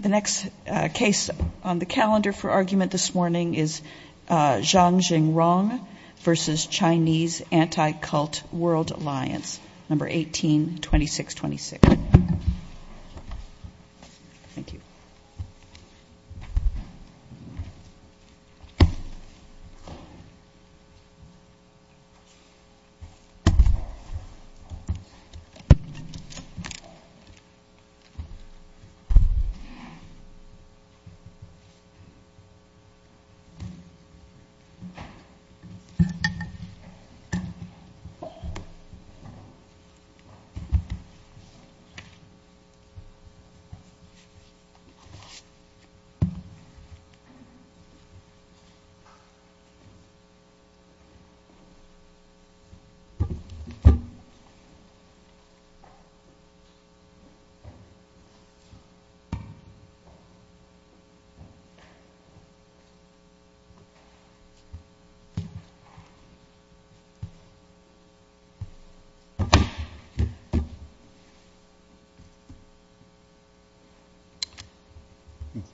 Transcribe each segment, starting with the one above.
The next case on the calendar for argument this morning is Zhang Jingrong v. Chinese Anti-Cult World Alliance, No. 182626. The next case on the calendar for argument this morning is Zhang Jingrong v. Chinese Anti-Cult World Alliance, No. 182626.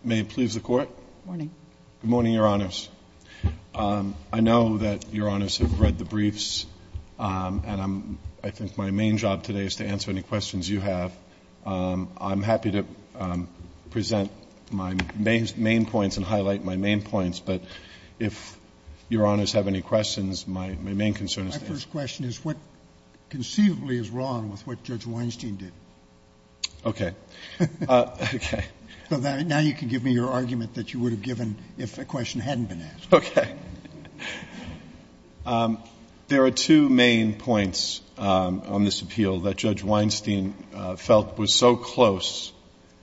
May it please the Court. Good morning. Good morning, Your Honors. I know that Your Honors have read the briefs, and I think my main job today is to answer any questions you have. I'm happy to present my main points and highlight my main points, but if Your Honors have any questions, my main concern is that. My first question is what conceivably is wrong with what Judge Weinstein did? Okay. Okay. So now you can give me your argument that you would have given if a question hadn't been asked. Okay. There are two main points on this appeal that Judge Weinstein felt was so close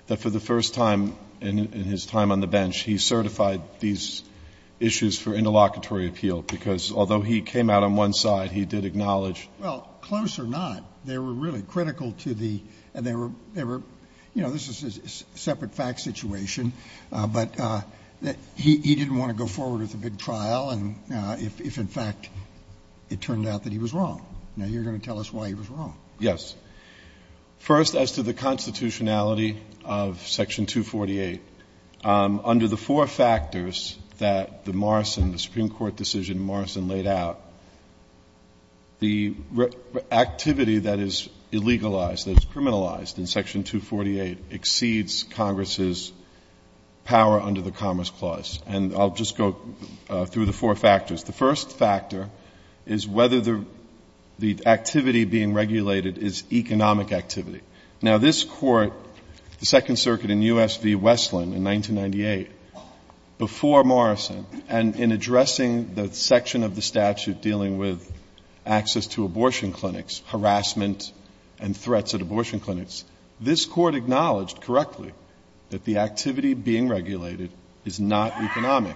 that for the first time in his time on the bench, he certified these issues for interlocutory appeal, because although he came out on one side, he did acknowledge. Well, close or not, they were really critical to the, and they were, you know, this is a separate fact situation, but he didn't want to go forward with a big trial if, in fact, it turned out that he was wrong. Now you're going to tell us why he was wrong. Yes. First, as to the constitutionality of Section 248, under the four factors that the Morrison, the Supreme Court decision Morrison laid out, the activity that is illegalized, that is criminalized in Section 248 exceeds Congress's power under the Commerce Clause. And I'll just go through the four factors. The first factor is whether the activity being regulated is economic activity. Now, this Court, the Second Circuit in U.S. v. Westland in 1998, before Morrison, and in addressing the section of the statute dealing with access to abortion clinics, harassment, and threats at abortion clinics, this Court acknowledged correctly that the activity being regulated is not economic.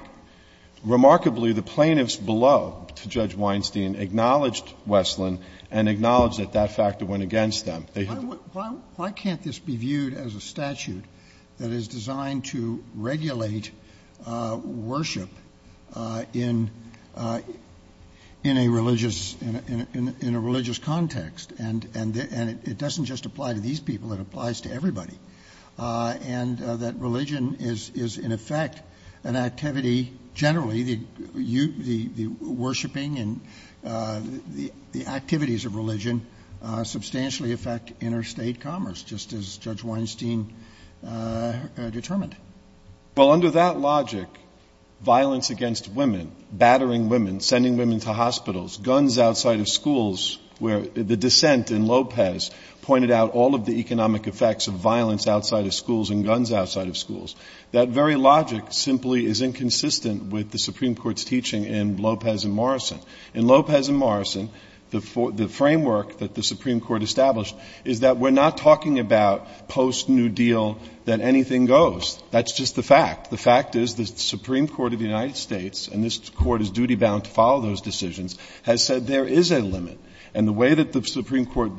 Remarkably, the plaintiffs below, to Judge Weinstein, acknowledged Westland and acknowledged that that factor went against them. Why can't this be viewed as a statute that is designed to regulate worship in a religious context? And it doesn't just apply to these people. It applies to everybody. And that religion is, in effect, an activity generally, the worshiping and the activities of religion substantially affect interstate commerce, just as Judge Weinstein determined. Well, under that logic, violence against women, battering women, sending women to hospitals, guns outside of schools, where the dissent in Lopez pointed out all of the economic effects of violence outside of schools and guns outside of schools, that very logic simply is inconsistent with the Supreme Court's teaching in Lopez and Morrison. In Lopez and Morrison, the framework that the Supreme Court established is that we're not talking about post-New Deal that anything goes. That's just the fact. The fact is that the Supreme Court of the United States, and this Court is duty-bound to follow those decisions, has said there is a limit. And the way that the Supreme Court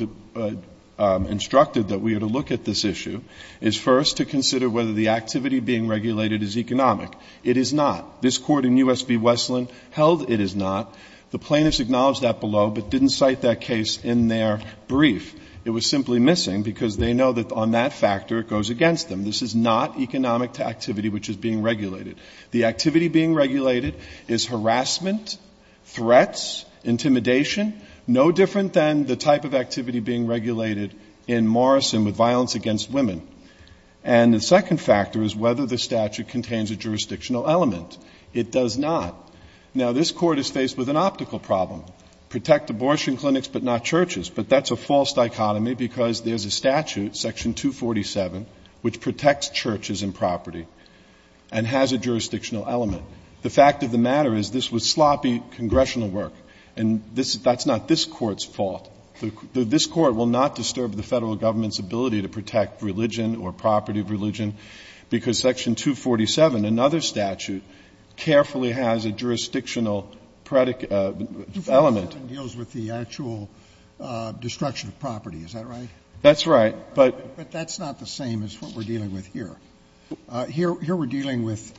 instructed that we are to look at this issue is first to consider whether the activity being regulated is economic. It is not. This Court in U.S. v. Westland held it is not. The plaintiffs acknowledged that below but didn't cite that case in their brief. It was simply missing because they know that on that factor it goes against them. This is not economic activity which is being regulated. The activity being regulated is harassment, threats, intimidation, no different than the type of activity being regulated in Morrison with violence against women. And the second factor is whether the statute contains a jurisdictional element. It does not. Now, this Court is faced with an optical problem, protect abortion clinics but not churches. But that's a false dichotomy because there's a statute, Section 247, which protects churches and property and has a jurisdictional element. The fact of the matter is this was sloppy congressional work, and that's not this Court's fault. This Court will not disturb the Federal Government's ability to protect religion or property of religion because Section 247, another statute, carefully has a jurisdictional element. Scalia. 247 deals with the actual destruction of property. Is that right? Fisher. That's right, but that's not the same as what we're dealing with here. Here we're dealing with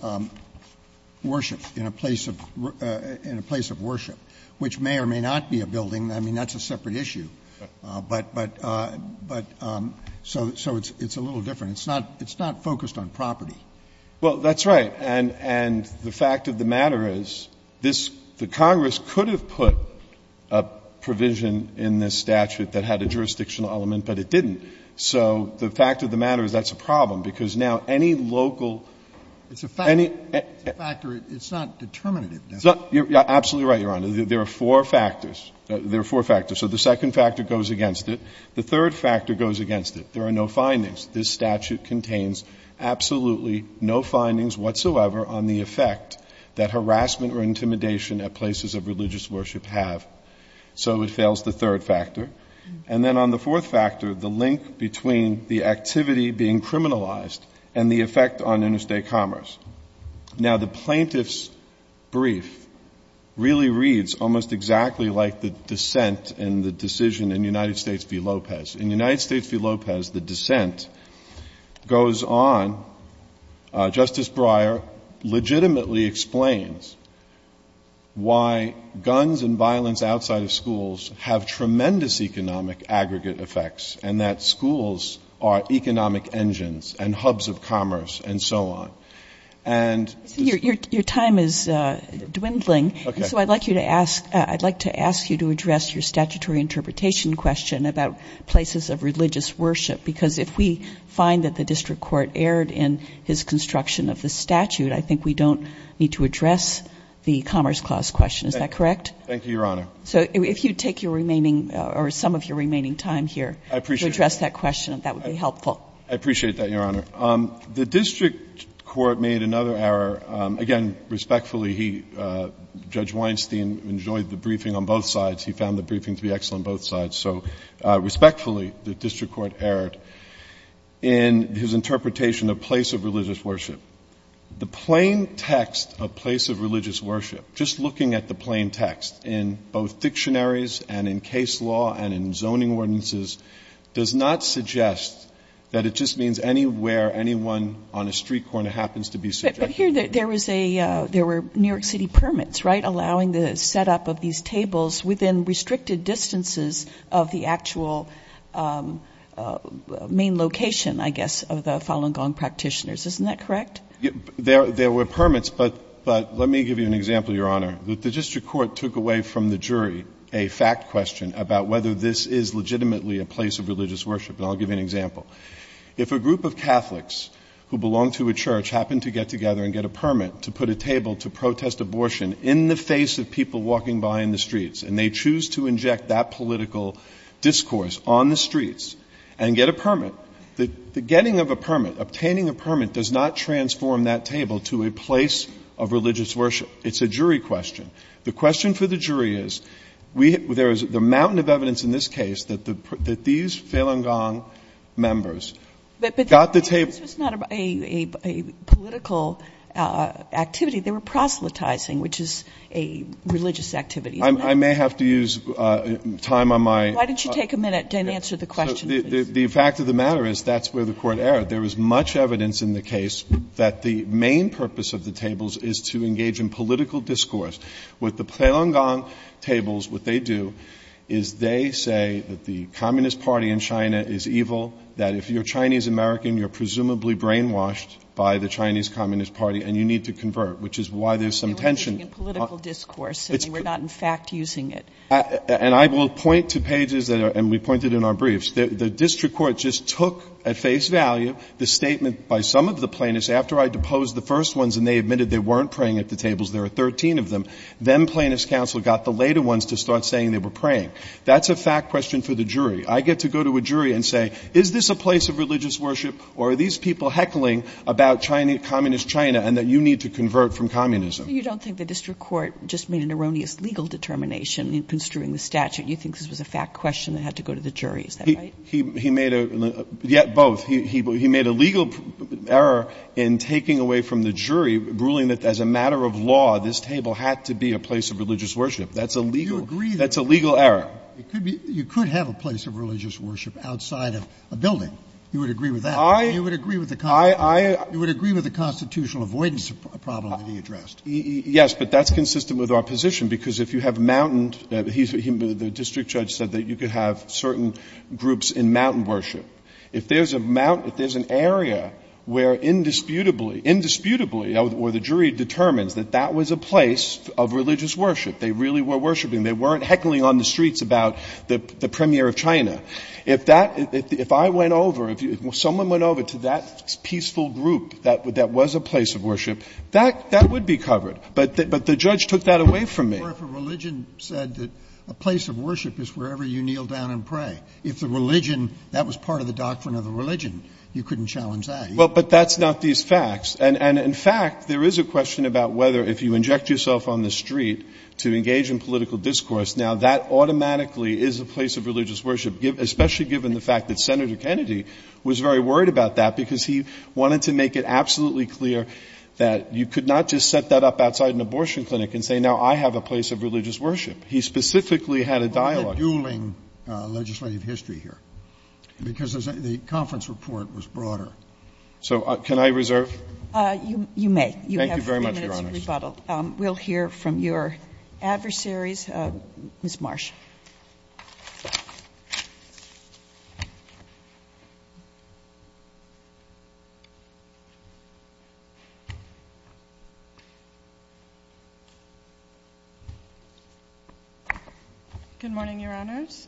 worship, in a place of worship, which may or may not be a building. I mean, that's a separate issue. But so it's a little different. It's not focused on property. Well, that's right. And the fact of the matter is this the Congress could have put a provision in this statute that had a jurisdictional element, but it didn't. So the fact of the matter is that's a problem, because now any local any. It's a factor. It's a factor. It's not determinative. It's not. You're absolutely right, Your Honor. There are four factors. There are four factors. So the second factor goes against it. The third factor goes against it. There are no findings. This statute contains absolutely no findings whatsoever on the effect that harassment or intimidation at places of religious worship have. So it fails the third factor. And then on the fourth factor, the link between the activity being criminalized and the effect on interstate commerce. Now, the plaintiff's brief really reads almost exactly like the dissent and the decision in United States v. Lopez. In United States v. Lopez, the dissent goes on. Justice Breyer legitimately explains why guns and violence outside of schools have tremendous economic aggregate effects and that schools are economic engines and hubs of commerce and so on. And this ---- Your time is dwindling. Okay. So I'd like you to ask you to address your statutory interpretation question about places of religious worship, because if we find that the district court erred in his construction of the statute, I think we don't need to address the Commerce Clause question. Is that correct? Thank you, Your Honor. So if you'd take your remaining or some of your remaining time here to address that question, that would be helpful. I appreciate that, Your Honor. The district court made another error. Again, respectfully, Judge Weinstein enjoyed the briefing on both sides. He found the briefing to be excellent on both sides. So respectfully, the district court erred in his interpretation of place of religious worship. The plain text of place of religious worship, just looking at the plain text in both dictionaries and in case law and in zoning ordinances, does not suggest that it just means anywhere anyone on a street corner happens to be suggested. But here there was a ---- there were New York City permits, right, allowing the setup of these tables within restricted distances of the actual main location, I guess, of the Falun Gong practitioners. Isn't that correct? There were permits, but let me give you an example, Your Honor. The district court took away from the jury a fact question about whether this is legitimately a place of religious worship. And I'll give you an example. If a group of Catholics who belong to a church happen to get together and get a permit to put a table to protest abortion in the face of people walking by in the streets and they choose to inject that political discourse on the streets and get a permit, the getting of a permit, obtaining a permit does not transform that table to a place of religious worship. It's a jury question. The question for the jury is, there is a mountain of evidence in this case that these Falun Gong members got the table ---- But this was not a political activity. They were proselytizing, which is a religious activity. I may have to use time on my ---- Why don't you take a minute and answer the question, please? The fact of the matter is that's where the Court erred. There was much evidence in the case that the main purpose of the tables is to engage in political discourse. With the Falun Gong tables, what they do is they say that the Communist Party in China is evil, that if you're Chinese-American, you're presumably brainwashed by the Chinese Communist Party and you need to convert, which is why there's some tension. You're engaging in political discourse. We're not in fact using it. And I will point to pages that are ---- and we pointed in our briefs. The district court just took at face value the statement by some of the plaintiffs after I deposed the first ones and they admitted they weren't praying at the tables, there were 13 of them. Then plaintiff's counsel got the later ones to start saying they were praying. That's a fact question for the jury. I get to go to a jury and say, is this a place of religious worship or are these people heckling about Chinese ---- Communist China and that you need to convert from communism? You don't think the district court just made an erroneous legal determination in construing the statute? You think this was a fact question that had to go to the jury? Is that right? He made a ---- yet both. He made a legal error in taking away from the jury ruling that as a matter of law, this table had to be a place of religious worship. That's a legal error. You agree that you could have a place of religious worship outside of a building. You would agree with that? I ---- You would agree with the constitutional avoidance problem that he addressed? Yes. But that's consistent with our position, because if you have mountained the district judge said that you could have certain groups in mountain worship. If there's a mountain, if there's an area where indisputably, indisputably where the jury determines that that was a place of religious worship, they really were worshiping. They weren't heckling on the streets about the premier of China. If that ---- if I went over, if someone went over to that peaceful group that was a place of worship, that would be covered. But the judge took that away from me. Or if a religion said that a place of worship is wherever you kneel down and pray. If the religion, that was part of the doctrine of the religion, you couldn't challenge that. Well, but that's not these facts. And in fact, there is a question about whether if you inject yourself on the street to engage in political discourse, now that automatically is a place of religious worship, especially given the fact that Senator Kennedy was very worried about that, because he wanted to make it absolutely clear that you could not just set that up outside an abortion clinic and say, now I have a place of religious worship. He specifically had a dialogue. Scalia. We're not dueling legislative history here, because the conference report was broader. So can I reserve? Thank you very much, Your Honor. You have three minutes to rebuttal. We'll hear from your adversaries. Ms. Marsh. Good morning, Your Honors.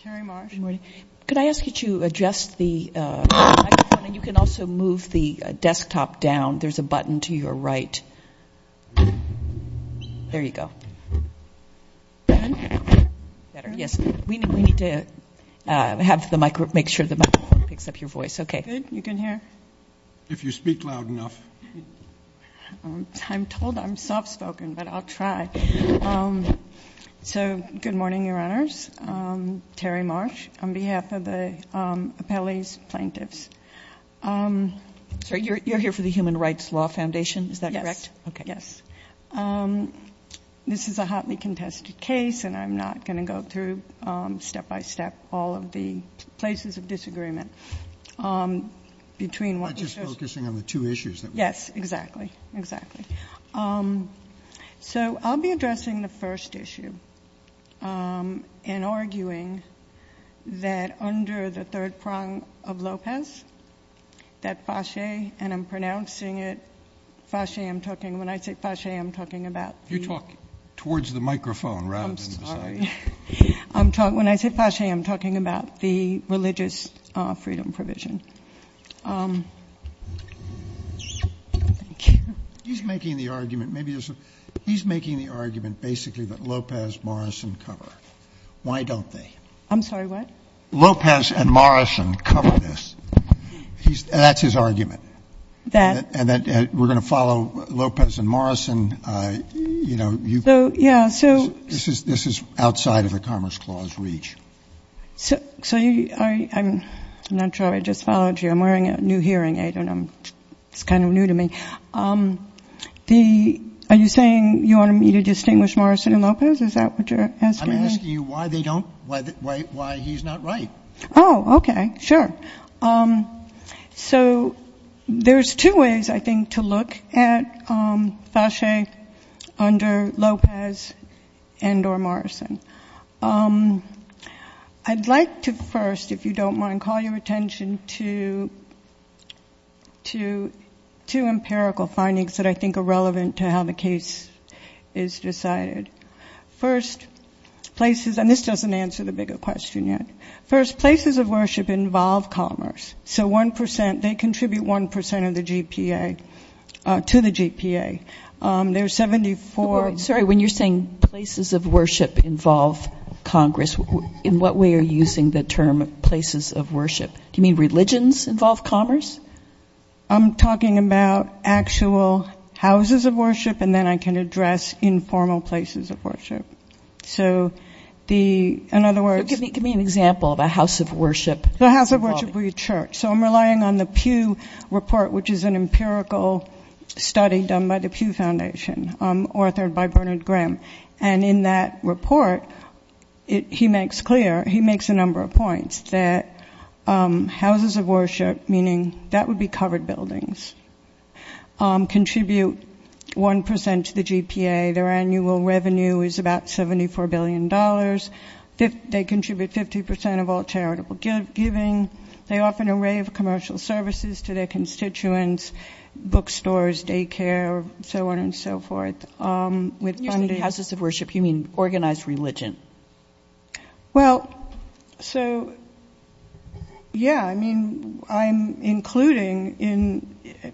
Terry Marsh. Good morning. Could I ask you to adjust the microphone? And you can also move the desktop down. There's a button to your right. Thank you. Thank you. Thank you. Thank you. Thank you. Thank you. Thank you. Thank you. Yes. We need to make sure the microphone picks up your voice. Okay. Good. You can hear? If you speak loud enough. I'm told I'm soft-spoken, but I'll try. So good morning, Your Honors. Terry Marsh, on behalf of the appellees, plaintiffs. So you're here for the Human Rights Law Foundation, is that correct? Yes. Okay. Yes. This is a hotly contested case, and I'm not going to go through step-by-step all of the places of disagreement. I'm just focusing on the two issues. Yes, exactly. Exactly. So I'll be addressing the first issue in arguing that under the third prong of Lopez, that Fasche, and I'm pronouncing it Fasche. When I say Fasche, I'm talking about the. You talk towards the microphone rather than to the side. I'm sorry. When I say Fasche, I'm talking about the religious freedom provision. He's making the argument basically that Lopez, Morris, and cover. Why don't they? I'm sorry, what? Lopez and Morrison cover this. That's his argument. That. We're going to follow Lopez and Morrison. Yeah, so. This is outside of the Commerce Clause reach. So I'm not sure I just followed you. I'm wearing a new hearing aid, and it's kind of new to me. Are you saying you want me to distinguish Morrison and Lopez? Is that what you're asking me? I'm asking you why he's not right. Oh, okay, sure. So there's two ways, I think, to look at Fasche under Lopez and or Morrison. I'd like to first, if you don't mind, call your attention to two empirical findings that I think are relevant to how the case is decided. First, places, and this doesn't answer the bigger question yet. First, places of worship involve commerce. So 1%, they contribute 1% of the GPA to the GPA. There's 74. Sorry, when you're saying places of worship involve Congress, in what way are you using the term places of worship? Do you mean religions involve commerce? I'm talking about actual houses of worship, and then I can address informal places of worship. So in other words ‑‑ Give me an example of a house of worship. A house of worship would be a church. So I'm relying on the Pew Report, which is an empirical study done by the Pew Foundation, authored by Bernard Grimm. And in that report, he makes clear, he makes a number of points that houses of worship, meaning that would be covered buildings, contribute 1% to the GPA. Their annual revenue is about $74 billion. They contribute 50% of all charitable giving. They offer an array of commercial services to their constituents, bookstores, daycare, so on and so forth. When you say houses of worship, you mean organized religion. Well, so, yeah, I mean, I'm including in ‑‑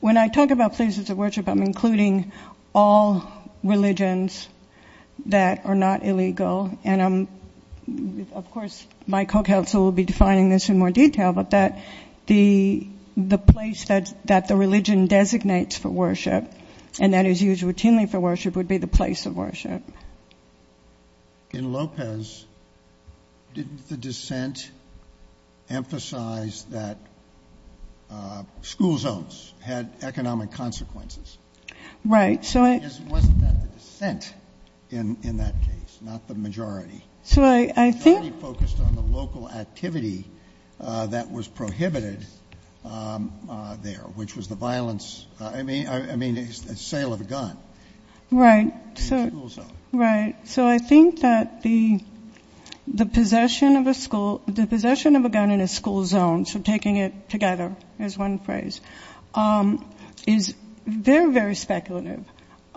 when I talk about places of worship, I'm including all religions that are not illegal. And I'm, of course, my co‑counsel will be defining this in more detail, but that the place that the religion designates for worship and that is used routinely for worship would be the place of worship. In Lopez, didn't the dissent emphasize that school zones had economic consequences? Right. Wasn't that the dissent in that case, not the majority? So I think ‑‑ was prohibited there, which was the violence, I mean, the sale of a gun. Right. In a school zone. Right. So I think that the possession of a school, the possession of a gun in a school zone, so taking it together is one phrase, is very, very speculative.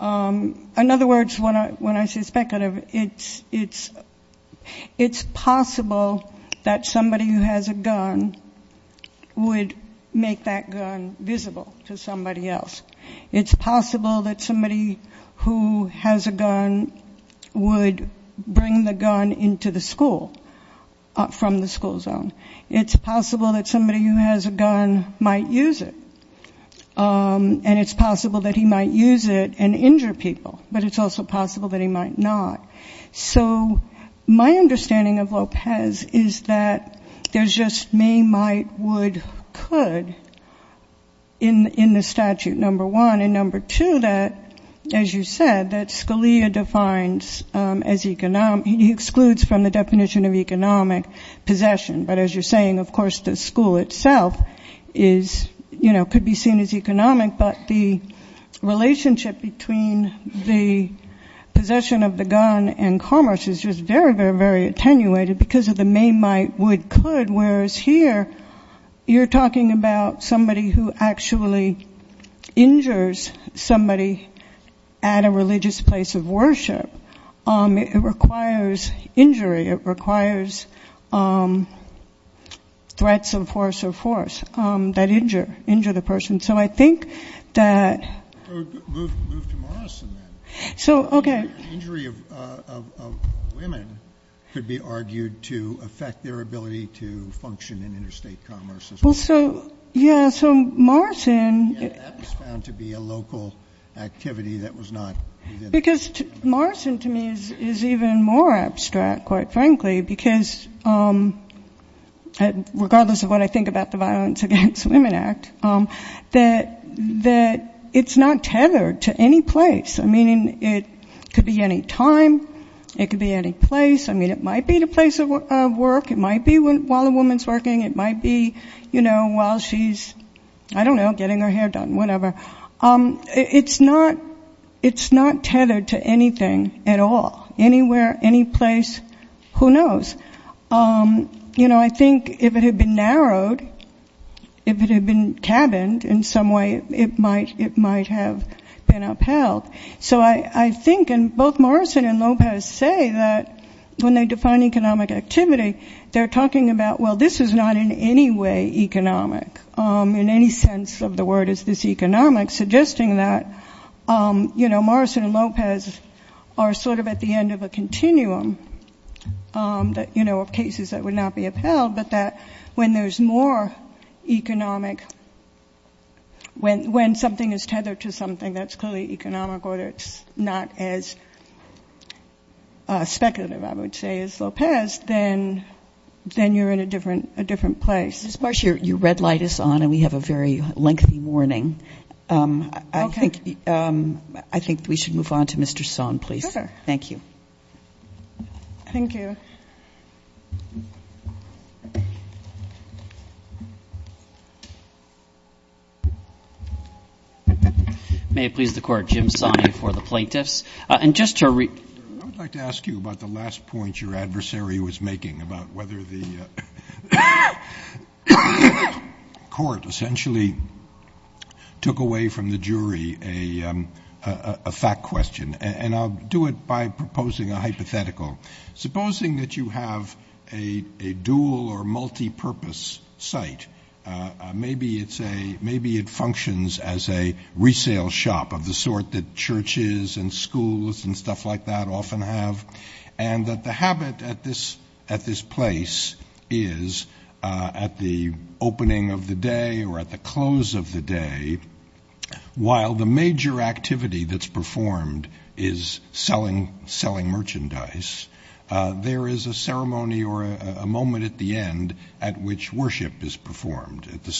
In other words, when I say speculative, it's possible that somebody who has a gun would make that gun visible to somebody else. It's possible that somebody who has a gun would bring the gun into the school from the school zone. It's possible that somebody who has a gun might use it. And it's possible that he might use it and injure people, but it's also possible that he might not. So my understanding of Lopez is that there's just may, might, would, could in the statute, number one. And number two, that, as you said, that Scalia defines as ‑‑ he excludes from the definition of economic possession. But as you're saying, of course, the school itself is, you know, could be seen as economic, but the relationship between the possession of the gun and commerce is just very, very, very attenuated because of the may, might, would, could. Whereas here, you're talking about somebody who actually injures somebody at a religious place of worship. It requires injury. It requires threats of force or force that injure, injure the person. So I think that ‑‑ Move to Morrison, then. So, okay. Injury of women could be argued to affect their ability to function in interstate commerce as well. Well, so, yeah, so Morrison ‑‑ Because Morrison to me is even more abstract, quite frankly, because regardless of what I think about the Violence Against Women Act, that it's not tethered to any place. I mean, it could be any time. It could be any place. I mean, it might be the place of work. It might be while a woman's working. It might be, you know, while she's, I don't know, getting her hair done, whatever. It's not tethered to anything at all. Anywhere, any place, who knows? You know, I think if it had been narrowed, if it had been cabined in some way, it might have been upheld. So I think, and both Morrison and Lopez say that when they define economic activity, they're talking about, well, this is not in any way economic in any sense of the word is this economic, suggesting that, you know, Morrison and Lopez are sort of at the end of a continuum, you know, of cases that would not be upheld, but that when there's more economic, when something is tethered to something that's clearly economic, or it's not as speculative, I would say, as Lopez, then you're in a different place. Ms. Marsh, your red light is on, and we have a very lengthy warning. Okay. I think we should move on to Mr. Sohn, please. Okay. Thank you. Thank you. Thank you. May it please the Court. Jim Sonney for the plaintiffs. And just to re- I would like to ask you about the last point your adversary was making about whether the court essentially took away from the jury a fact question, and I'll do it by proposing a hypothetical. Supposing that you have a dual or multipurpose site. Maybe it functions as a resale shop of the sort that churches and schools and stuff like that often have, and that the habit at this place is at the opening of the day or at the close of the day, while the major activity that's performed is selling merchandise, there is a ceremony or a moment at the end at which worship is performed. At the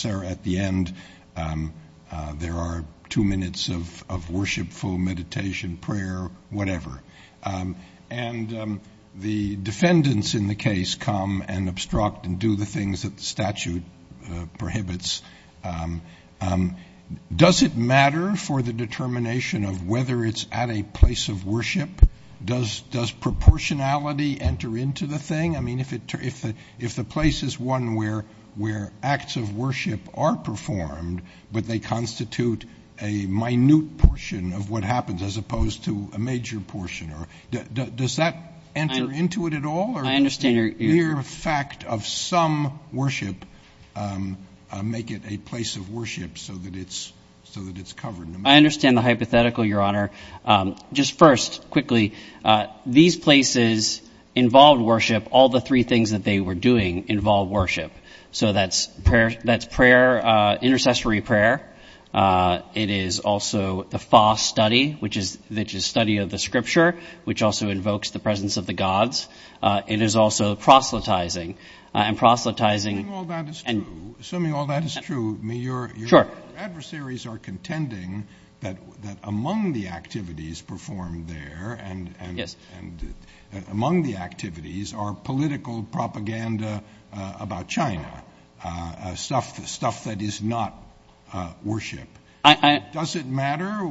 end, there are two minutes of worshipful meditation, prayer, whatever. And the defendants in the case come and obstruct and do the things that the statute prohibits. Does it matter for the determination of whether it's at a place of worship? Does proportionality enter into the thing? I mean, if the place is one where acts of worship are performed, but they constitute a minute portion of what happens as opposed to a major portion. Does that enter into it at all? I understand your question. Or does the mere fact of some worship make it a place of worship so that it's covered? I understand the hypothetical, Your Honor. Just first, quickly, these places involved worship. All the three things that they were doing involved worship. So that's intercessory prayer. It is also the fast study, which is study of the scripture, which also invokes the presence of the gods. It is also proselytizing and proselytizing. Assuming all that is true, your adversaries are contending that among the activities performed there and among the activities are political propaganda about China, stuff that is not worship. Does it matter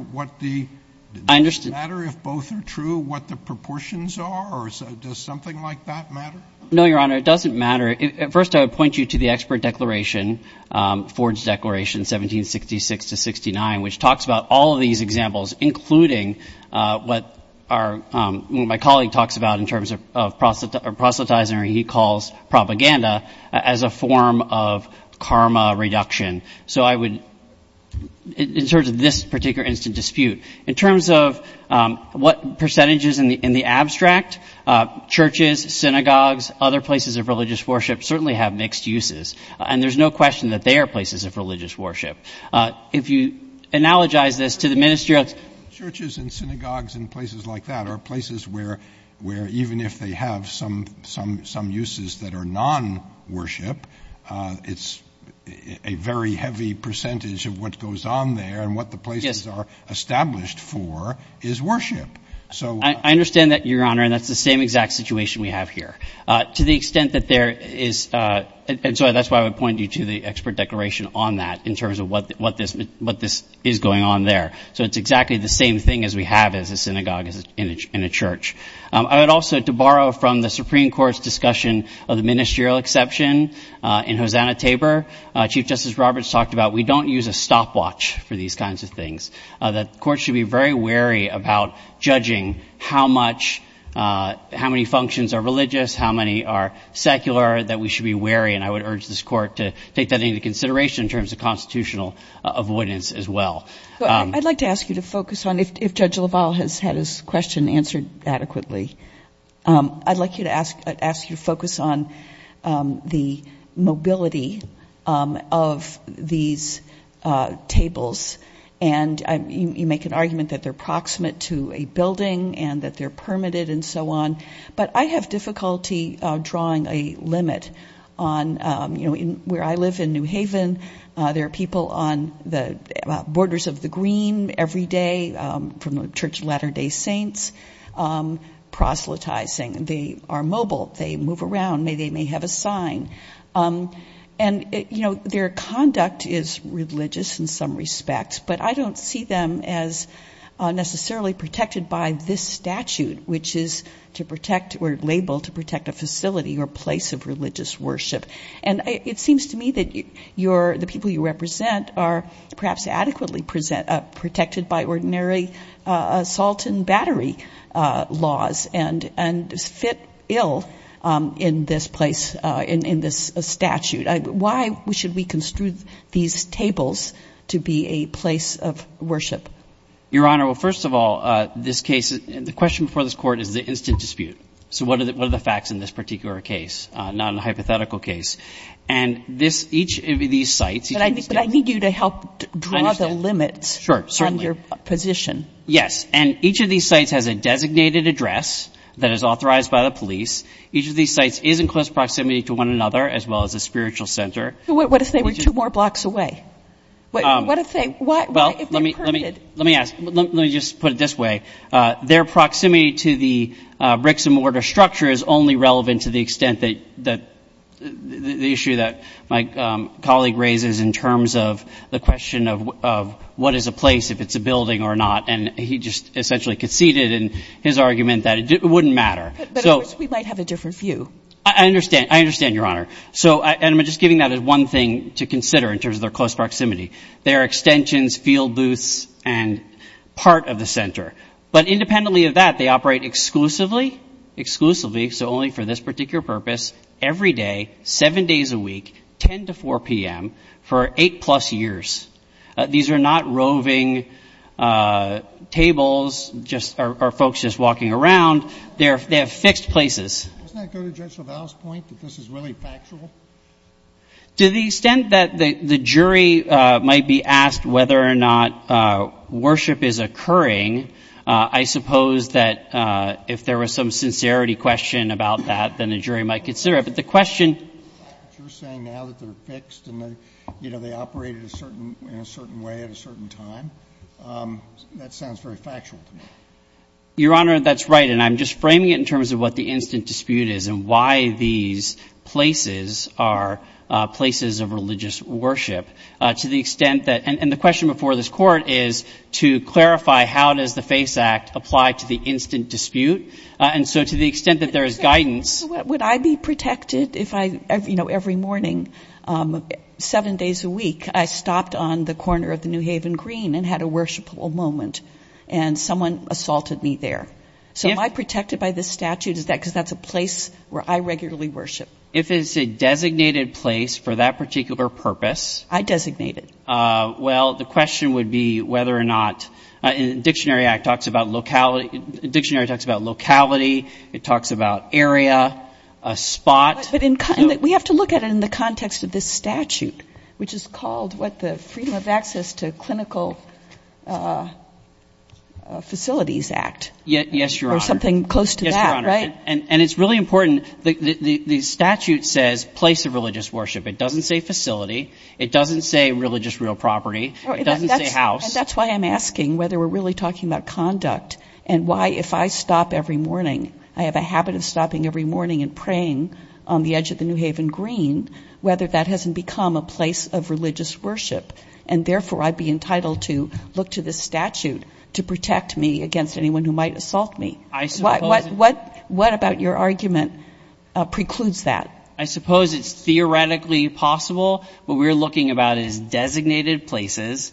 if both are true what the proportions are? Or does something like that matter? No, Your Honor. It doesn't matter. First, I would point you to the expert declaration, Ford's Declaration 1766-69, which talks about all of these examples, including what my colleague talks about in terms of proselytizing, or he calls propaganda, as a form of karma reduction. So I would, in terms of this particular instant dispute, in terms of what percentages in the abstract, churches, synagogues, other places of religious worship certainly have mixed uses. And there's no question that they are places of religious worship. If you analogize this to the ministerial – Churches and synagogues and places like that are places where even if they have some uses that are non-worship, it's a very heavy percentage of what goes on there and what the places are established for is worship. I understand that, Your Honor, and that's the same exact situation we have here. To the extent that there is – and so that's why I would point you to the expert declaration on that, in terms of what this is going on there. So it's exactly the same thing as we have as a synagogue and a church. I would also, to borrow from the Supreme Court's discussion of the ministerial exception in Hosanna-Tabor, Chief Justice Roberts talked about we don't use a stopwatch for these kinds of things, that courts should be very wary about judging how much – how many functions are religious, how many are secular, that we should be wary. And I would urge this court to take that into consideration in terms of constitutional avoidance as well. I'd like to ask you to focus on – if Judge LaValle has had his question answered adequately, I'd like to ask you to focus on the mobility of these tables. And you make an argument that they're proximate to a building and that they're permitted and so on. But I have difficulty drawing a limit on – where I live in New Haven, there are people on the borders of the green every day from the Church of Latter-day Saints, proselytizing, they are mobile, they move around, they may have a sign. And, you know, their conduct is religious in some respects, but I don't see them as necessarily protected by this statute, which is to protect or label to protect a facility or place of religious worship. And it seems to me that the people you represent are perhaps adequately protected by ordinary salt and battery laws and fit ill in this place, in this statute. Why should we construe these tables to be a place of worship? Your Honor, well, first of all, this case – the question before this court is the instant dispute. So what are the facts in this particular case, non-hypothetical case? And each of these sites – But I need you to help draw the limits on your position. Sure, certainly. Yes. And each of these sites has a designated address that is authorized by the police. Each of these sites is in close proximity to one another, as well as a spiritual center. What if they were two more blocks away? What if they're permitted? Well, let me ask – let me just put it this way. Their proximity to the bricks-and-mortar structure is only relevant to the extent that – the issue that my colleague raises in terms of the question of what is a place if it's a building or not. And he just essentially conceded in his argument that it wouldn't matter. But of course, we might have a different view. I understand. I understand, Your Honor. So – and I'm just giving that as one thing to consider in terms of their close proximity. They are extensions, field booths, and part of the center. But independently of that, they operate exclusively – exclusively, so only for this particular purpose – every day, 7 days a week, 10 to 4 p.m. for 8-plus years. These are not roving tables, just – or folks just walking around. They are fixed places. Doesn't that go to Judge LaValle's point, that this is really factual? To the extent that the jury might be asked whether or not worship is occurring, I suppose that if there was some sincerity question about that, then the jury might consider it. But the question – Your Honor, that's right. And I'm just framing it in terms of what the instant dispute is and why these places are places of religious worship. To the extent that – and the question before this Court is to clarify how does the FACE Act apply to the instant dispute. And so to the extent that there is guidance... Would I be protected if I – you know, every morning, 7 days a week, I stopped on the corner of the New Haven Green and had a worshipable moment, and someone assaulted me there? So am I protected by this statute? Is that because that's a place where I regularly worship? If it's a designated place for that particular purpose... It talks about locality, it talks about area, a spot... But we have to look at it in the context of this statute, which is called what the Freedom of Access to Clinical Facilities Act. Yes, Your Honor. Or something close to that, right? Yes, Your Honor. And it's really important. The statute says place of religious worship. It doesn't say facility. It doesn't say religious real property. It doesn't say house. That's why I'm asking whether we're really talking about conduct and why, if I stop every morning, I have a habit of stopping every morning and praying on the edge of the New Haven Green, whether that hasn't become a place of religious worship. And therefore, I'd be entitled to look to this statute to protect me against anyone who might assault me. What about your argument precludes that? I suppose it's theoretically possible. What we're looking about is designated places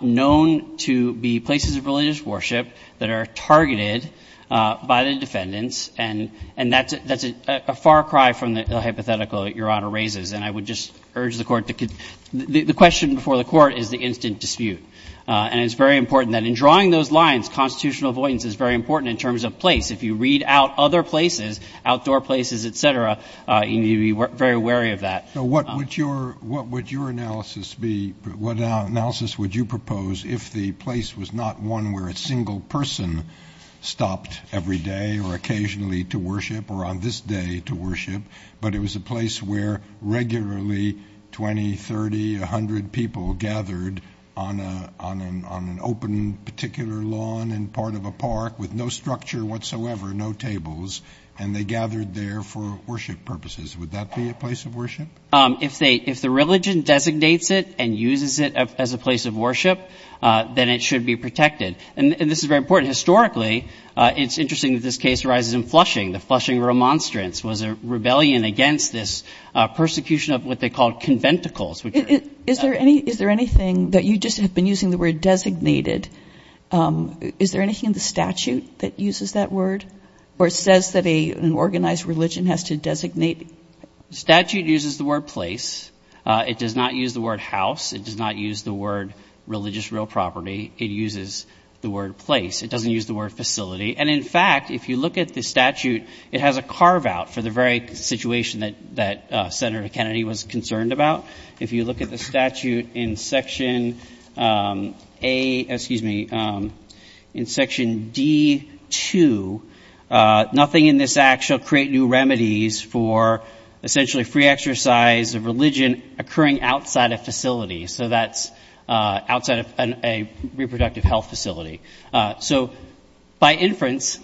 known to be places of religious worship that are targeted by the defendants. And that's a far cry from the hypothetical that Your Honor raises. And I would just urge the Court to — the question before the Court is the instant dispute. And it's very important that in drawing those lines, constitutional avoidance is very important in terms of place. If you read out other places, outdoor places, et cetera, you need to be very wary of that. So what would your analysis be? What analysis would you propose if the place was not one where a single person stopped every day or occasionally to worship or on this day to worship, but it was a place where regularly 20, 30, 100 people gathered on an open particular lawn and part of a park with no structure whatsoever, no tables, and they gathered there for worship purposes? Would that be a place of worship? If the religion designates it and uses it as a place of worship, then it should be protected. And this is very important. Historically, it's interesting that this case arises in Flushing. The Flushing Remonstrance was a rebellion against this persecution of what they called conventicles. Is there any — is there anything that — you just have been using the word designated. Is there anything in the statute that uses that word or says that an organized religion has to designate? The statute uses the word place. It does not use the word house. It does not use the word religious real property. It uses the word place. It doesn't use the word facility. And in fact, if you look at the statute, it has a carve-out for the very situation that Senator Kennedy was concerned about. If you look at the statute in Section A — excuse me, in Section D-2, nothing in this act shall create new remedies for essentially free exercise of religion occurring outside a facility. So that's outside a reproductive health facility. So by inference,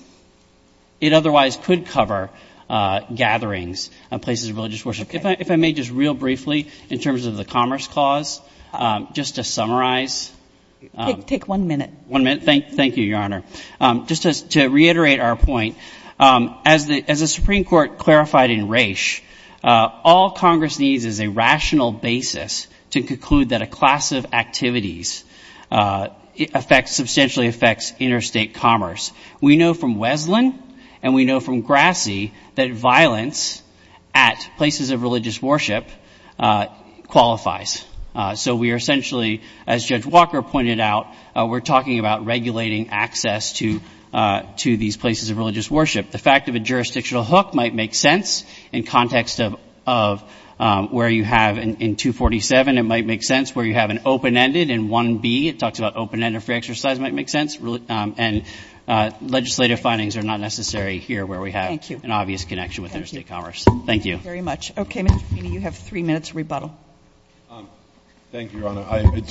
it otherwise could cover gatherings and places of religious worship. If I may just real briefly, in terms of the Commerce Clause, just to summarize — Take one minute. One minute. Thank you, Your Honor. Just to reiterate our point, as the Supreme Court clarified in Raich, all Congress needs is a rational basis to conclude that a class of activities substantially affects interstate commerce. We know from Weslin and we know from Grassi that violence at places of religious worship qualifies. So we are essentially, as Judge Walker pointed out, we're talking about regulating access to these places of religious worship. The fact of a jurisdictional hook might make sense in context of where you have in 247. It might make sense where you have an open-ended in 1B. It talks about open-ended free exercise might make sense. And legislative findings are not necessary here where we have an obvious connection with interstate commerce. Thank you. Thank you very much. Okay, Mr. Feeney, you have three minutes rebuttal. Thank you, Your Honor.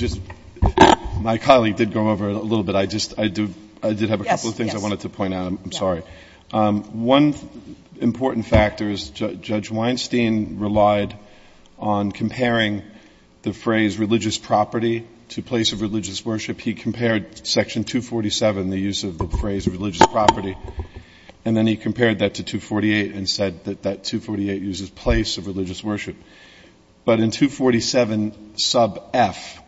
My colleague did go over it a little bit. I did have a couple of things I wanted to point out. I'm sorry. One important factor is Judge Weinstein relied on comparing the phrase religious property to place of religious worship. He compared Section 247, the use of the phrase religious property, and then he compared that to 248 and said that that 248 uses place of religious worship. But in 247 sub F,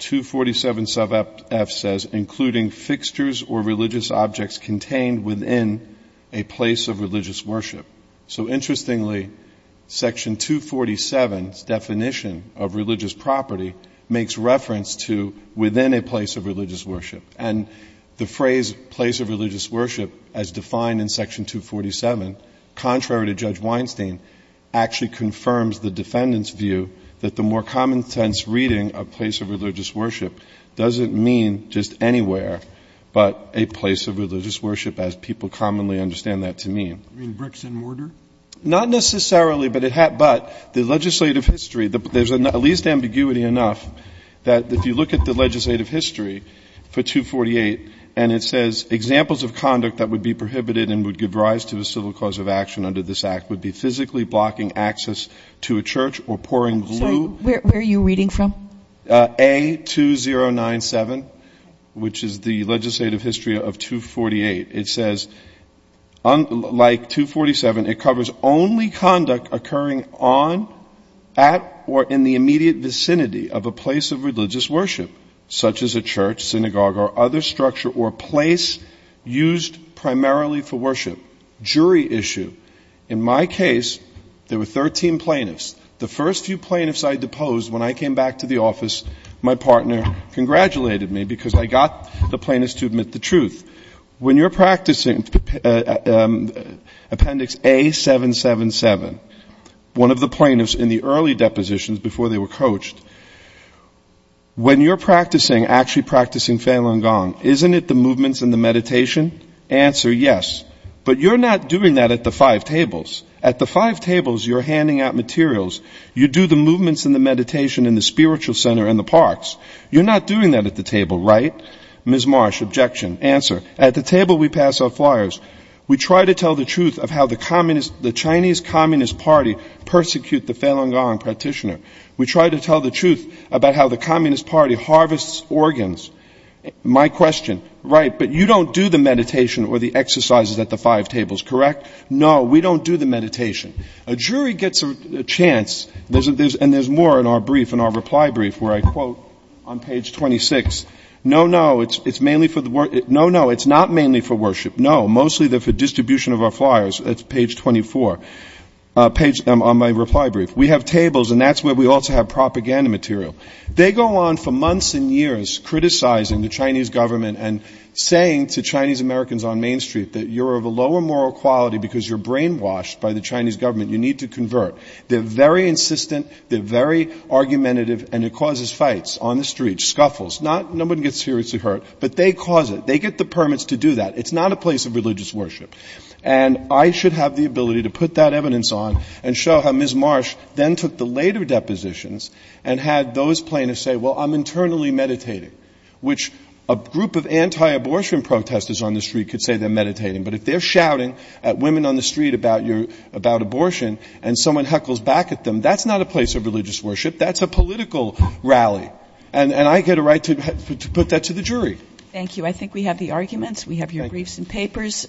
247 sub F says, including fixtures or religious objects contained within a place of religious worship. So interestingly, Section 247's definition of religious property makes reference to within a place of religious worship. And the phrase place of religious worship, as defined in Section 247, contrary to Judge Weinstein, actually confirms the defendant's view that the more common sense reading of place of religious worship doesn't mean just anything anywhere, but a place of religious worship, as people commonly understand that to mean. You mean bricks and mortar? Not necessarily, but the legislative history, there's at least ambiguity enough that if you look at the legislative history for 248 and it says examples of conduct that would be prohibited and would give rise to a civil cause of action under this Act would be physically blocking access to a church or pouring glue. Where are you reading from? A2097, which is the legislative history of 248. It says, like 247, it covers only conduct occurring on, at, or in the immediate vicinity of a place of religious worship, such as a church, synagogue, or other structure or place used primarily for worship. Jury issue. In my case, there were 13 plaintiffs. The first few plaintiffs I deposed when I came back to the office, my partner congratulated me because I got the plaintiffs to admit the truth. When you're practicing Appendix A777, one of the plaintiffs in the early depositions before they were coached, when you're practicing, actually practicing Falun Gong, isn't it the movements and the meditation? Answer, yes. But you're not doing that at the five tables. At the five tables you're handing out materials, you do the movements and the meditation in the spiritual center in the parks. You're not doing that at the table, right? Ms. Marsh, objection. Answer, at the table we pass out flyers. We try to tell the truth of how the Chinese Communist Party persecute the Falun Gong practitioner. We try to tell the truth about how the Communist Party harvests organs. My question, right, but you don't do the meditation or the exercises at the five tables, correct? No, we don't do the meditation. A jury gets a chance, and there's more in our brief, in our reply brief, where I quote on page 26, no, no, it's mainly for the, no, no, it's not mainly for worship. No, mostly they're for distribution of our flyers. That's page 24, on my reply brief. We have tables and that's where we also have propaganda material. They go on for months and years criticizing the Chinese government and saying to Chinese Americans on Main Street that you're of a lower moral quality because you're brainwashed by the Chinese government, you need to convert. They're very insistent, they're very argumentative, and it causes fights on the street, scuffles. No one gets seriously hurt, but they cause it. They get the permits to do that. It's not a place of religious worship, and I should have the ability to put that evidence on and show how Ms. Marsh then took the later depositions and had those plaintiffs say, well, I'm internally meditating, which a group of anti-abortion protesters on the street could say they're meditating, but if they're shouting at women on the street about abortion and someone heckles back at them, that's not a place of religious worship, that's a political rally, and I get a right to put that to the jury. Thank you, I think we have the arguments, we have your briefs and papers.